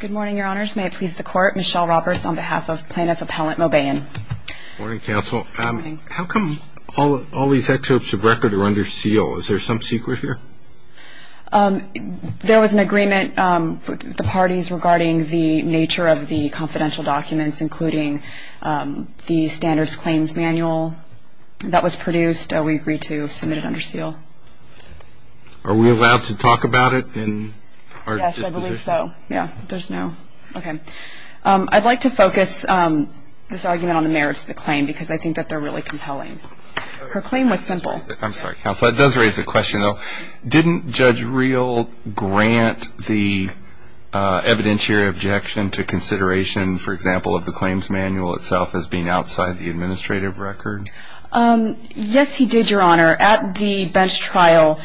Good morning, Your Honors. May it please the Court, Michelle Roberts on behalf of Plaintiff Appellant Mobayen. Good morning, Counsel. How come all these excerpts of record are under seal? Is there some secret here? There was an agreement with the parties regarding the nature of the confidential documents, including the Standards Claims Manual that was produced. We agreed to submit it under seal. Are we allowed to talk about it in our disposition? I don't think so. Yeah, there's no. Okay. I'd like to focus this argument on the merits of the claim because I think that they're really compelling. Her claim was simple. I'm sorry, Counsel. That does raise a question, though. Didn't Judge Reel grant the evidentiary objection to consideration, for example, of the claims manual itself as being outside the administrative record? Yes, he did, Your Honor. At the bench trial,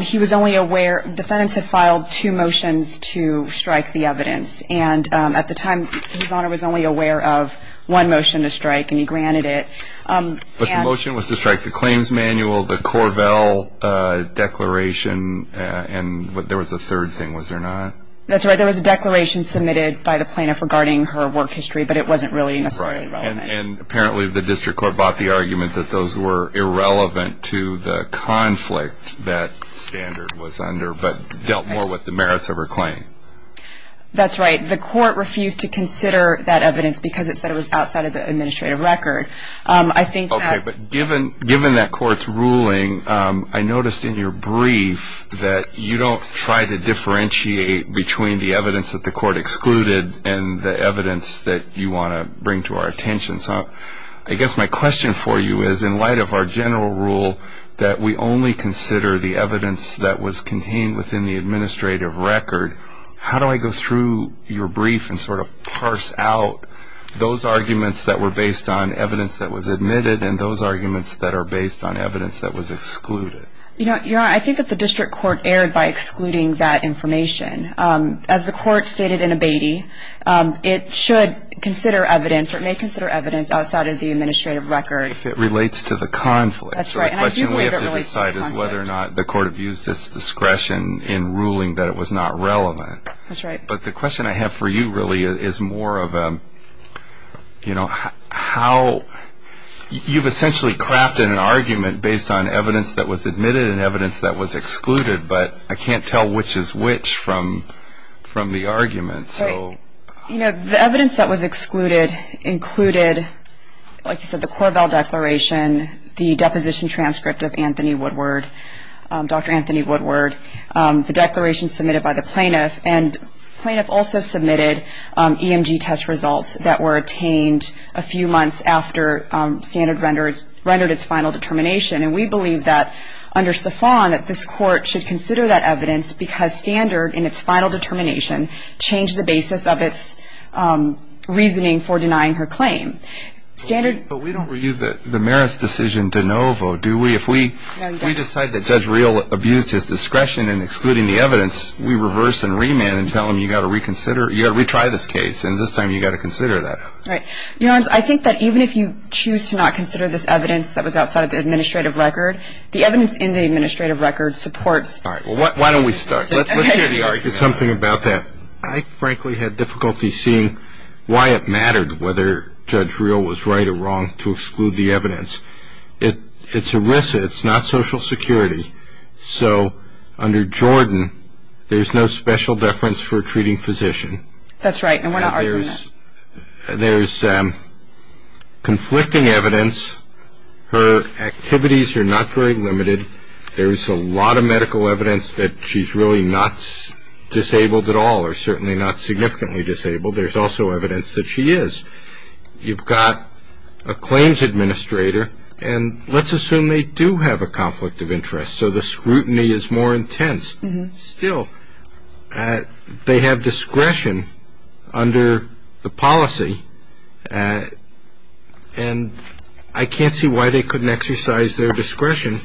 he was only aware that the defendants had filed two motions to strike the evidence. And at the time, His Honor was only aware of one motion to strike, and he granted it. But the motion was to strike the claims manual, the Corvell Declaration, and there was a third thing, was there not? That's right. There was a declaration submitted by the plaintiff regarding her work history, but it wasn't really necessarily relevant. And apparently the District Court bought the argument that those were irrelevant to the conflict that standard was under but dealt more with the merits of her claim. That's right. The court refused to consider that evidence because it said it was outside of the administrative record. Okay, but given that court's ruling, I noticed in your brief that you don't try to differentiate between the evidence that the court excluded and the evidence that you want to bring to our attention. So I guess my question for you is, in light of our general rule that we only consider the evidence that was contained within the administrative record, how do I go through your brief and sort of parse out those arguments that were based on evidence that was admitted and those arguments that are based on evidence that was excluded? Your Honor, I think that the District Court erred by excluding that information. As the court stated in Abatey, it should consider evidence or it may consider evidence outside of the administrative record. If it relates to the conflict. That's right. And I do believe it relates to the conflict. So the question we have to decide is whether or not the court abused its discretion in ruling that it was not relevant. That's right. But the question I have for you really is more of a, you know, how you've essentially crafted an argument based on evidence that was admitted and evidence that was excluded, but I can't tell which is which from the argument. Right. You know, the evidence that was excluded included, like you said, the Corvell Declaration, the deposition transcript of Anthony Woodward, Dr. Anthony Woodward, the declaration submitted by the plaintiff, and the plaintiff also submitted EMG test results that were attained a few months after standard rendered its final determination. And we believe that under Stefan that this court should consider that evidence because standard in its final determination changed the basis of its reasoning for denying her claim. But we don't reuse the merits decision de novo, do we? No, you don't. If we decide that Judge Real abused his discretion in excluding the evidence, we reverse and remand and tell him you've got to reconsider, you've got to retry this case, and this time you've got to consider that. Right. Your Honor, I think that even if you choose to not consider this evidence that was outside of the administrative record, the evidence in the administrative record supports. All right. Well, why don't we start? Let's hear the argument. There's something about that. I frankly had difficulty seeing why it mattered whether Judge Real was right or wrong to exclude the evidence. It's ERISA. It's not Social Security. So under Jordan, there's no special deference for a treating physician. That's right, and we're not arguing that. There's conflicting evidence. Her activities are not very limited. There's a lot of medical evidence that she's really not disabled at all, or certainly not significantly disabled. There's also evidence that she is. You've got a claims administrator, and let's assume they do have a conflict of interest, so the scrutiny is more intense. Still, they have discretion under the policy, and I can't see why they couldn't exercise their discretion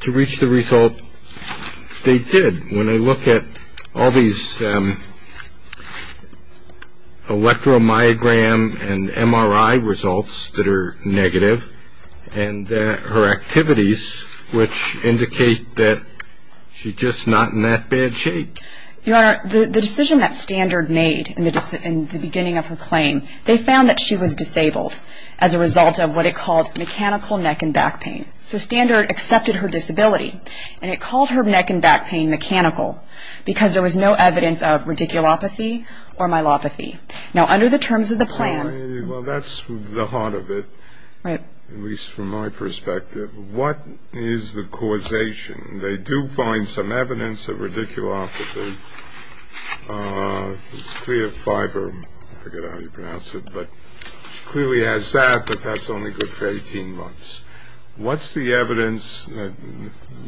to reach the result they did. When I look at all these electromyogram and MRI results that are negative, and her activities, which indicate that she's just not in that bad shape. Your Honor, the decision that Standard made in the beginning of her claim, they found that she was disabled as a result of what it called mechanical neck and back pain. So Standard accepted her disability, and it called her neck and back pain mechanical because there was no evidence of radiculopathy or myelopathy. Now, under the terms of the plan. Well, that's the heart of it, at least from my perspective. What is the causation? They do find some evidence of radiculopathy. It's clear fiber, I forget how you pronounce it, but clearly has that, but that's only good for 18 months. What's the evidence?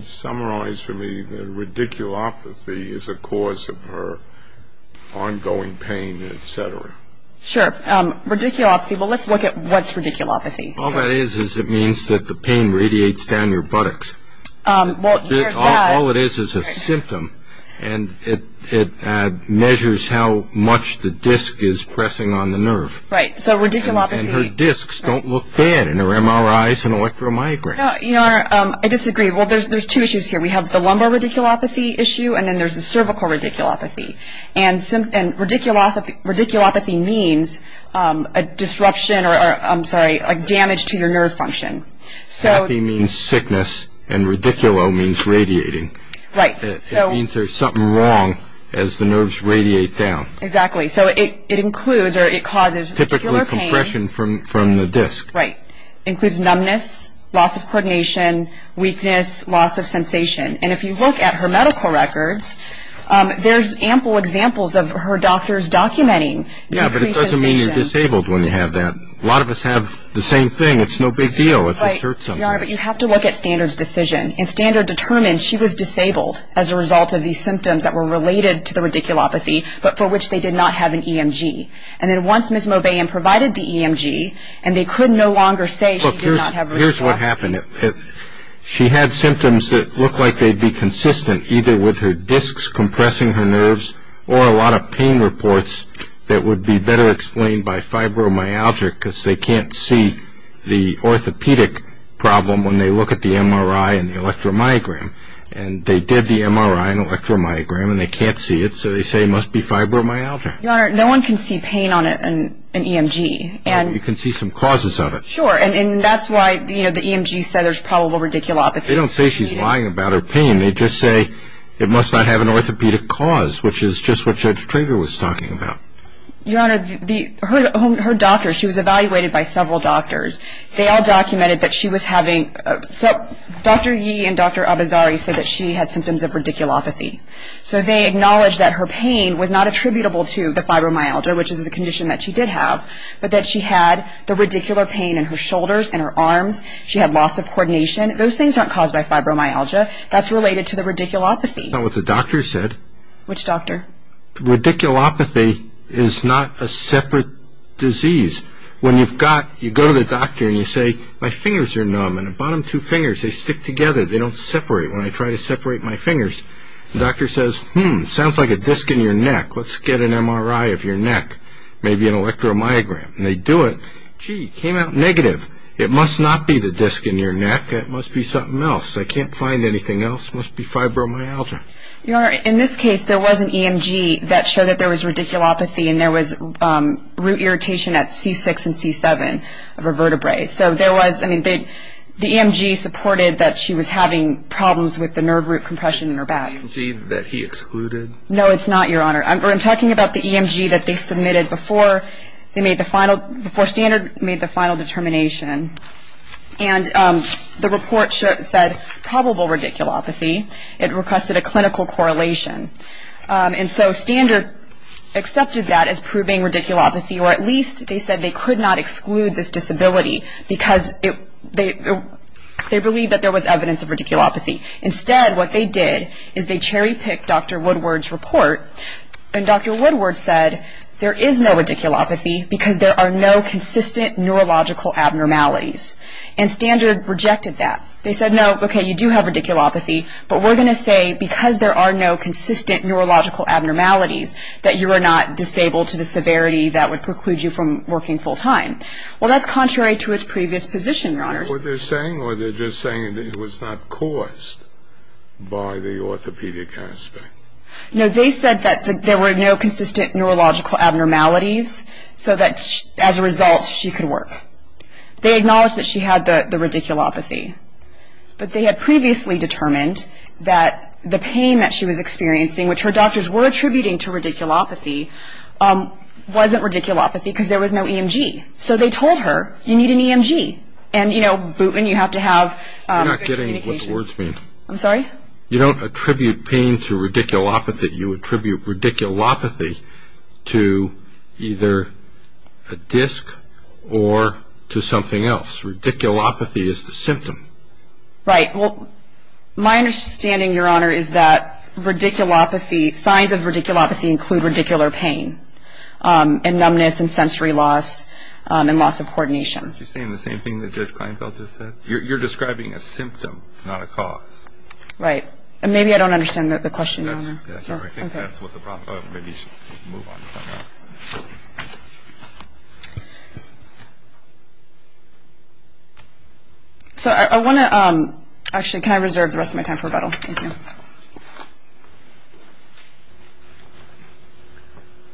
Summarize for me that radiculopathy is a cause of her ongoing pain. Sure. Radiculopathy. Well, let's look at what's radiculopathy. All that is is it means that the pain radiates down your buttocks. All it is is a symptom, and it measures how much the disc is pressing on the nerve. Right. So radiculopathy. And her discs don't look bad, and her MRI is an electromyogram. Your Honor, I disagree. Well, there's two issues here. We have the lumbar radiculopathy issue, and then there's the cervical radiculopathy. And radiculopathy means a disruption or, I'm sorry, a damage to your nerve function. Happy means sickness, and radiculo means radiating. Right. It means there's something wrong as the nerves radiate down. Exactly. So it includes or it causes particular pain. Typically compression from the disc. Right. Includes numbness, loss of coordination, weakness, loss of sensation. And if you look at her medical records, there's ample examples of her doctors documenting decreased sensation. Yeah, but it doesn't mean you're disabled when you have that. A lot of us have the same thing. It's no big deal if it hurts somebody. Right. Your Honor, but you have to look at Standard's decision. And Standard determined she was disabled as a result of these symptoms that were related to the radiculopathy, but for which they did not have an EMG. And then once Ms. Mobayen provided the EMG, and they could no longer say she did not have radiculopathy. Look, here's what happened. She had symptoms that looked like they'd be consistent either with her discs compressing her nerves or a lot of pain reports that would be better explained by fibromyalgia because they can't see the orthopedic problem when they look at the MRI and the electromyogram. And they did the MRI and electromyogram, and they can't see it, so they say it must be fibromyalgia. Your Honor, no one can see pain on an EMG. You can see some causes of it. Sure, and that's why the EMG said there's probable radiculopathy. They don't say she's lying about her pain. They just say it must not have an orthopedic cause, which is just what Judge Trager was talking about. Your Honor, her doctors, she was evaluated by several doctors. They all documented that she was having, Dr. Yee and Dr. Abizari said that she had symptoms of radiculopathy. So they acknowledged that her pain was not attributable to the fibromyalgia, which is a condition that she did have, but that she had the radicular pain in her shoulders and her arms. She had loss of coordination. Those things aren't caused by fibromyalgia. That's related to the radiculopathy. Isn't that what the doctor said? Which doctor? Radiculopathy is not a separate disease. When you've got, you go to the doctor and you say, my fingers are numb, and the bottom two fingers, they stick together. They don't separate. When I try to separate my fingers, the doctor says, hmm, sounds like a disc in your neck. Let's get an MRI of your neck, maybe an electromyogram. And they do it. Gee, it came out negative. It must not be the disc in your neck. It must be something else. I can't find anything else. It must be fibromyalgia. Your Honor, in this case, there was an EMG that showed that there was radiculopathy, and there was root irritation at C6 and C7 of her vertebrae. So there was, I mean, the EMG supported that she was having problems with the nerve root compression in her back. EMG that he excluded? No, it's not, Your Honor. I'm talking about the EMG that they submitted before they made the final, before Standard made the final determination. And the report said probable radiculopathy. It requested a clinical correlation. And so Standard accepted that as proving radiculopathy, or at least they said they could not exclude this disability because they believed that there was evidence of radiculopathy. Instead, what they did is they cherry-picked Dr. Woodward's report, and Dr. Woodward said there is no radiculopathy because there are no consistent neurological abnormalities. And Standard rejected that. They said, no, okay, you do have radiculopathy, but we're going to say because there are no consistent neurological abnormalities, that you are not disabled to the severity that would preclude you from working full-time. Well, that's contrary to its previous position, Your Honor. Well, they're saying, or they're just saying that it was not caused by the orthopedic aspect. No, they said that there were no consistent neurological abnormalities, so that as a result she could work. They acknowledged that she had the radiculopathy. But they had previously determined that the pain that she was experiencing, which her doctors were attributing to radiculopathy, wasn't radiculopathy because there was no EMG. So they told her, you need an EMG. And, you know, Bootman, you have to have good communications. You're not getting what the words mean. I'm sorry? You don't attribute pain to radiculopathy. You attribute radiculopathy to either a disc or to something else. Radiculopathy is the symptom. Right. Well, my understanding, Your Honor, is that radiculopathy, signs of radiculopathy include radicular pain and numbness and sensory loss and loss of coordination. Aren't you saying the same thing that Judge Kleinfeld just said? You're describing a symptom, not a cause. Right. And maybe I don't understand the question, Your Honor. That's all right. I think that's what the problem is. Maybe you should move on from that. So I want to – actually, can I reserve the rest of my time for rebuttal? Thank you.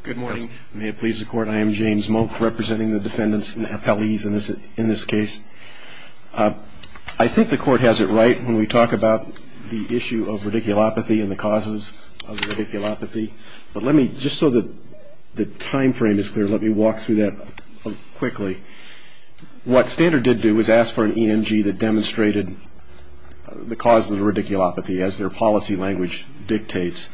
Good morning. May it please the Court, I am James Monk representing the defendants and the appellees in this case. I think the Court has it right when we talk about the issue of radiculopathy and the causes of radiculopathy. But let me, just so the timeframe is clear, let me walk through that quickly. What Standard did do was ask for an EMG that demonstrated the causes of radiculopathy as their policy language dictates.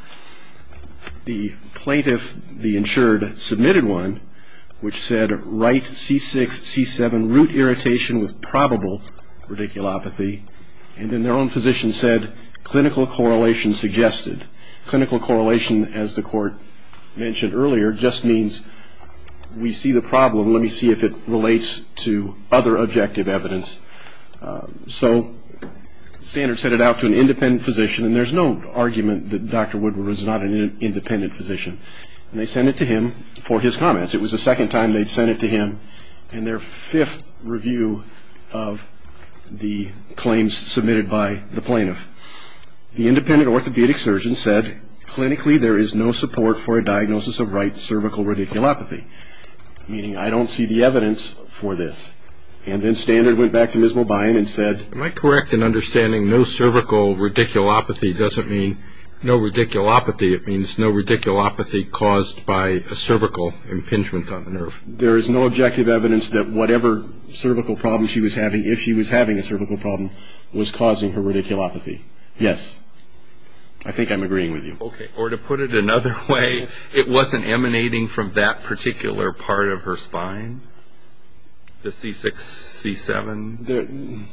The plaintiff, the insured, submitted one which said right C6, C7, root irritation with probable radiculopathy. And then their own physician said clinical correlation suggested. Clinical correlation, as the Court mentioned earlier, just means we see the problem. Let me see if it relates to other objective evidence. So Standard sent it out to an independent physician. And there's no argument that Dr. Woodward was not an independent physician. And they sent it to him for his comments. It was the second time they'd sent it to him and their fifth review of the claims submitted by the plaintiff. The independent orthopedic surgeon said clinically there is no support for a diagnosis of right cervical radiculopathy, meaning I don't see the evidence for this. And then Standard went back to Ms. Mobine and said. Am I correct in understanding no cervical radiculopathy doesn't mean no radiculopathy. It means no radiculopathy caused by a cervical impingement on the nerve. There is no objective evidence that whatever cervical problem she was having, if she was having a cervical problem, was causing her radiculopathy. Yes. I think I'm agreeing with you. Okay. Or to put it another way, it wasn't emanating from that particular part of her spine, the C6, C7?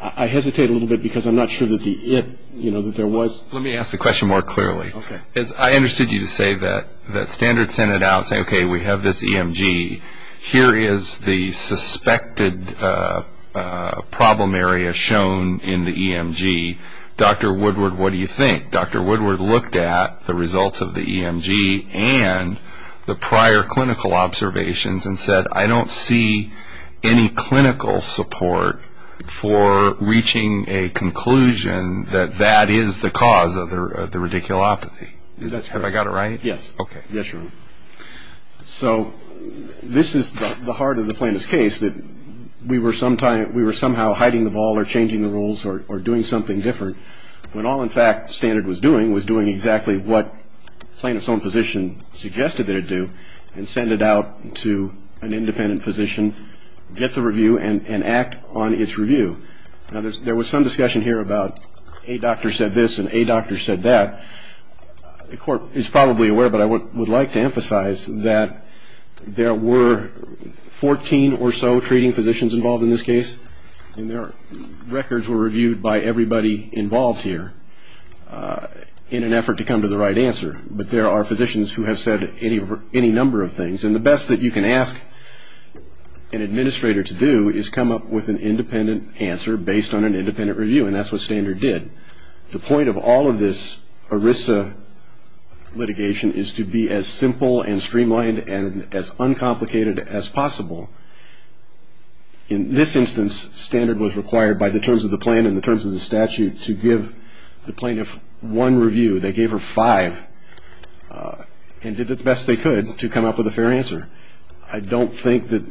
I hesitate a little bit because I'm not sure that the it, you know, that there was. Let me ask the question more clearly. Okay. I understood you to say that Standard sent it out saying, okay, we have this EMG. Here is the suspected problem area shown in the EMG. Dr. Woodward, what do you think? Dr. Woodward looked at the results of the EMG and the prior clinical observations and said I don't see any clinical support for reaching a conclusion that that is the cause of the radiculopathy. That's correct. Have I got it right? Yes. Okay. Yes, Your Honor. So this is the heart of the plaintiff's case that we were somehow hiding the ball or doing something different when all, in fact, Standard was doing was doing exactly what plaintiff's own physician suggested that it do and send it out to an independent physician, get the review, and act on its review. Now, there was some discussion here about a doctor said this and a doctor said that. The Court is probably aware, but I would like to emphasize that there were 14 or so treating physicians involved in this case, and their records were reviewed by everybody involved here in an effort to come to the right answer. But there are physicians who have said any number of things, and the best that you can ask an administrator to do is come up with an independent answer based on an independent review, and that's what Standard did. The point of all of this ERISA litigation is to be as simple and streamlined and as uncomplicated as possible. In this instance, Standard was required by the terms of the plan and the terms of the statute to give the plaintiff one review. They gave her five and did the best they could to come up with a fair answer. I don't think that...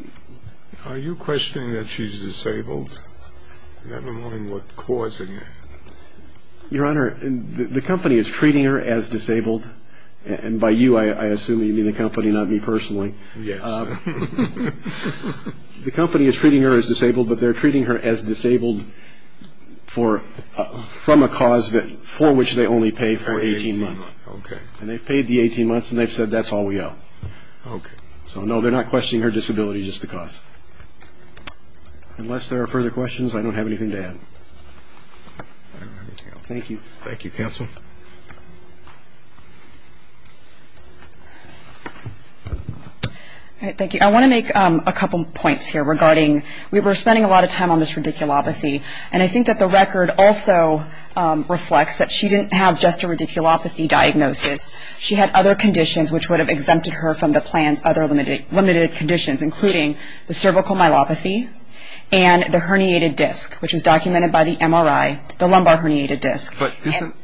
Are you questioning that she's disabled? Never mind what caused it. Your Honor, the company is treating her as disabled, and by you I assume you mean the company, not me personally. Yes. The company is treating her as disabled, but they're treating her as disabled from a cause for which they only pay for 18 months. Okay. And they've paid the 18 months, and they've said that's all we owe. Okay. So, no, they're not questioning her disability, just the cost. Unless there are further questions, I don't have anything to add. Thank you. Thank you, counsel. Thank you. Thank you. I want to make a couple points here regarding we were spending a lot of time on this radiculopathy, and I think that the record also reflects that she didn't have just a radiculopathy diagnosis. She had other conditions which would have exempted her from the plan's other limited conditions, including the cervical myelopathy and the herniated disc, which is documented by the MRI, the lumbar herniated disc. But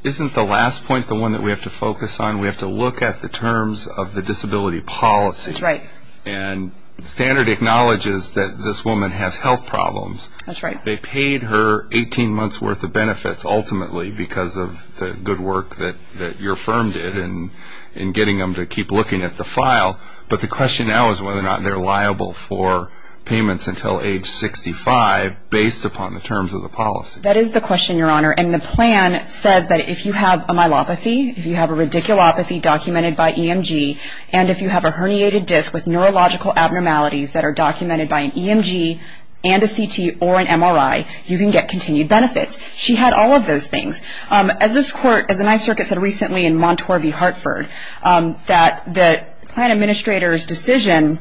isn't the last point the one that we have to focus on? We have to look at the terms of the disability policy. That's right. And standard acknowledges that this woman has health problems. That's right. They paid her 18 months' worth of benefits, ultimately, because of the good work that your firm did in getting them to keep looking at the file. But the question now is whether or not they're liable for payments until age 65, based upon the terms of the policy. That is the question, Your Honor. And the plan says that if you have a myelopathy, if you have a radiculopathy documented by EMG, and if you have a herniated disc with neurological abnormalities that are documented by an EMG and a CT or an MRI, you can get continued benefits. She had all of those things. As this Court, as the Ninth Circuit said recently in Montour v. Hartford, that the plan administrator's decision,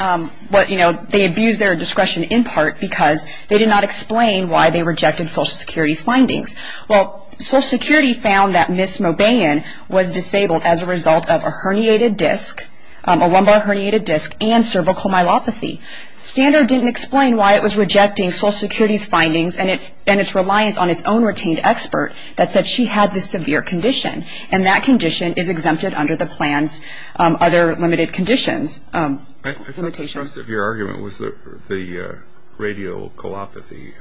you know, they abused their discretion in part because they did not explain why they rejected Social Security's findings. Well, Social Security found that Ms. Mobayan was disabled as a result of a herniated disc, a lumbar herniated disc and cervical myelopathy. Standard didn't explain why it was rejecting Social Security's findings and its reliance on its own retained expert that said she had this severe condition. And that condition is exempted under the plan's other limited conditions. I thought the thrust of your argument was the radioculopathy,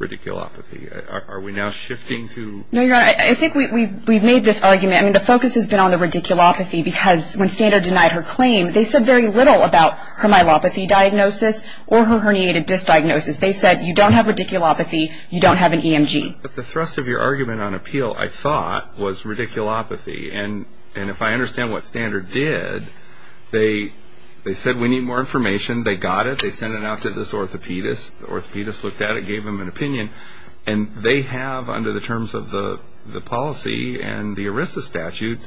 radiculopathy. Are we now shifting to? No, Your Honor. I think we've made this argument. I mean, the focus has been on the radiculopathy because when Standard denied her claim, they said very little about her myelopathy diagnosis or her herniated disc diagnosis. They said you don't have radiculopathy, you don't have an EMG. But the thrust of your argument on appeal, I thought, was radiculopathy. And if I understand what Standard did, they said we need more information. They got it. They sent it out to this orthopedist. The orthopedist looked at it, gave him an opinion. And they have, under the terms of the policy and the ERISA statute,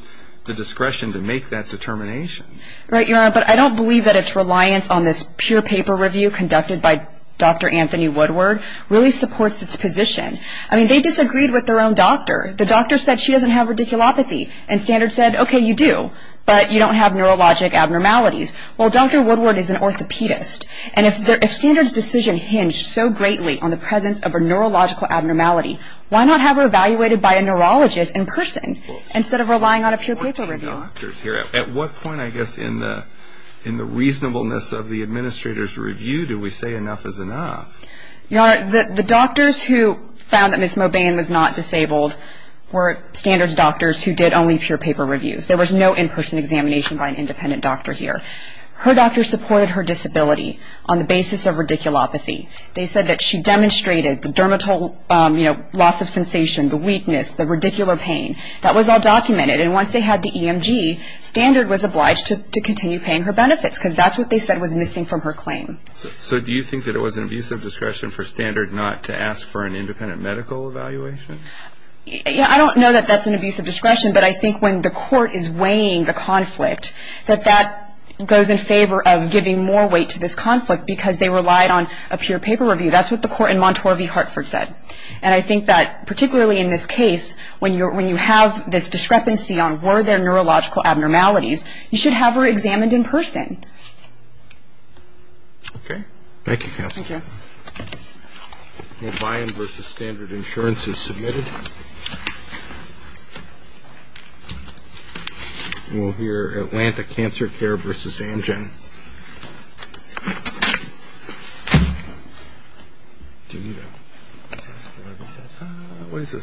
the discretion to make that determination. Right, Your Honor. But I don't believe that its reliance on this pure paper review conducted by Dr. Anthony Woodward really supports its position. I mean, they disagreed with their own doctor. The doctor said she doesn't have radiculopathy. And Standard said, okay, you do, but you don't have neurologic abnormalities. Well, Dr. Woodward is an orthopedist. And if Standard's decision hinged so greatly on the presence of a neurological abnormality, why not have her evaluated by a neurologist in person instead of relying on a pure paper review? At what point, I guess, in the reasonableness of the administrator's review do we say enough is enough? Your Honor, the doctors who found that Ms. Mobain was not disabled were Standard's doctors who did only pure paper reviews. There was no in-person examination by an independent doctor here. Her doctors supported her disability on the basis of radiculopathy. They said that she demonstrated the dermal loss of sensation, the weakness, the radicular pain. That was all documented. And once they had the EMG, Standard was obliged to continue paying her benefits because that's what they said was missing from her claim. So do you think that it was an abuse of discretion for Standard not to ask for an independent medical evaluation? I don't know that that's an abuse of discretion, but I think when the court is weighing the conflict that that goes in favor of giving more weight to this conflict because they relied on a pure paper review. That's what the court in Montour v. Hartford said. And I think that particularly in this case, when you have this discrepancy on were there neurological abnormalities, you should have her examined in person. Okay. Thank you, counsel. Thank you. Biome v. Standard Insurance is submitted. We'll hear Atlanta Cancer Care v. Amgen. What is this?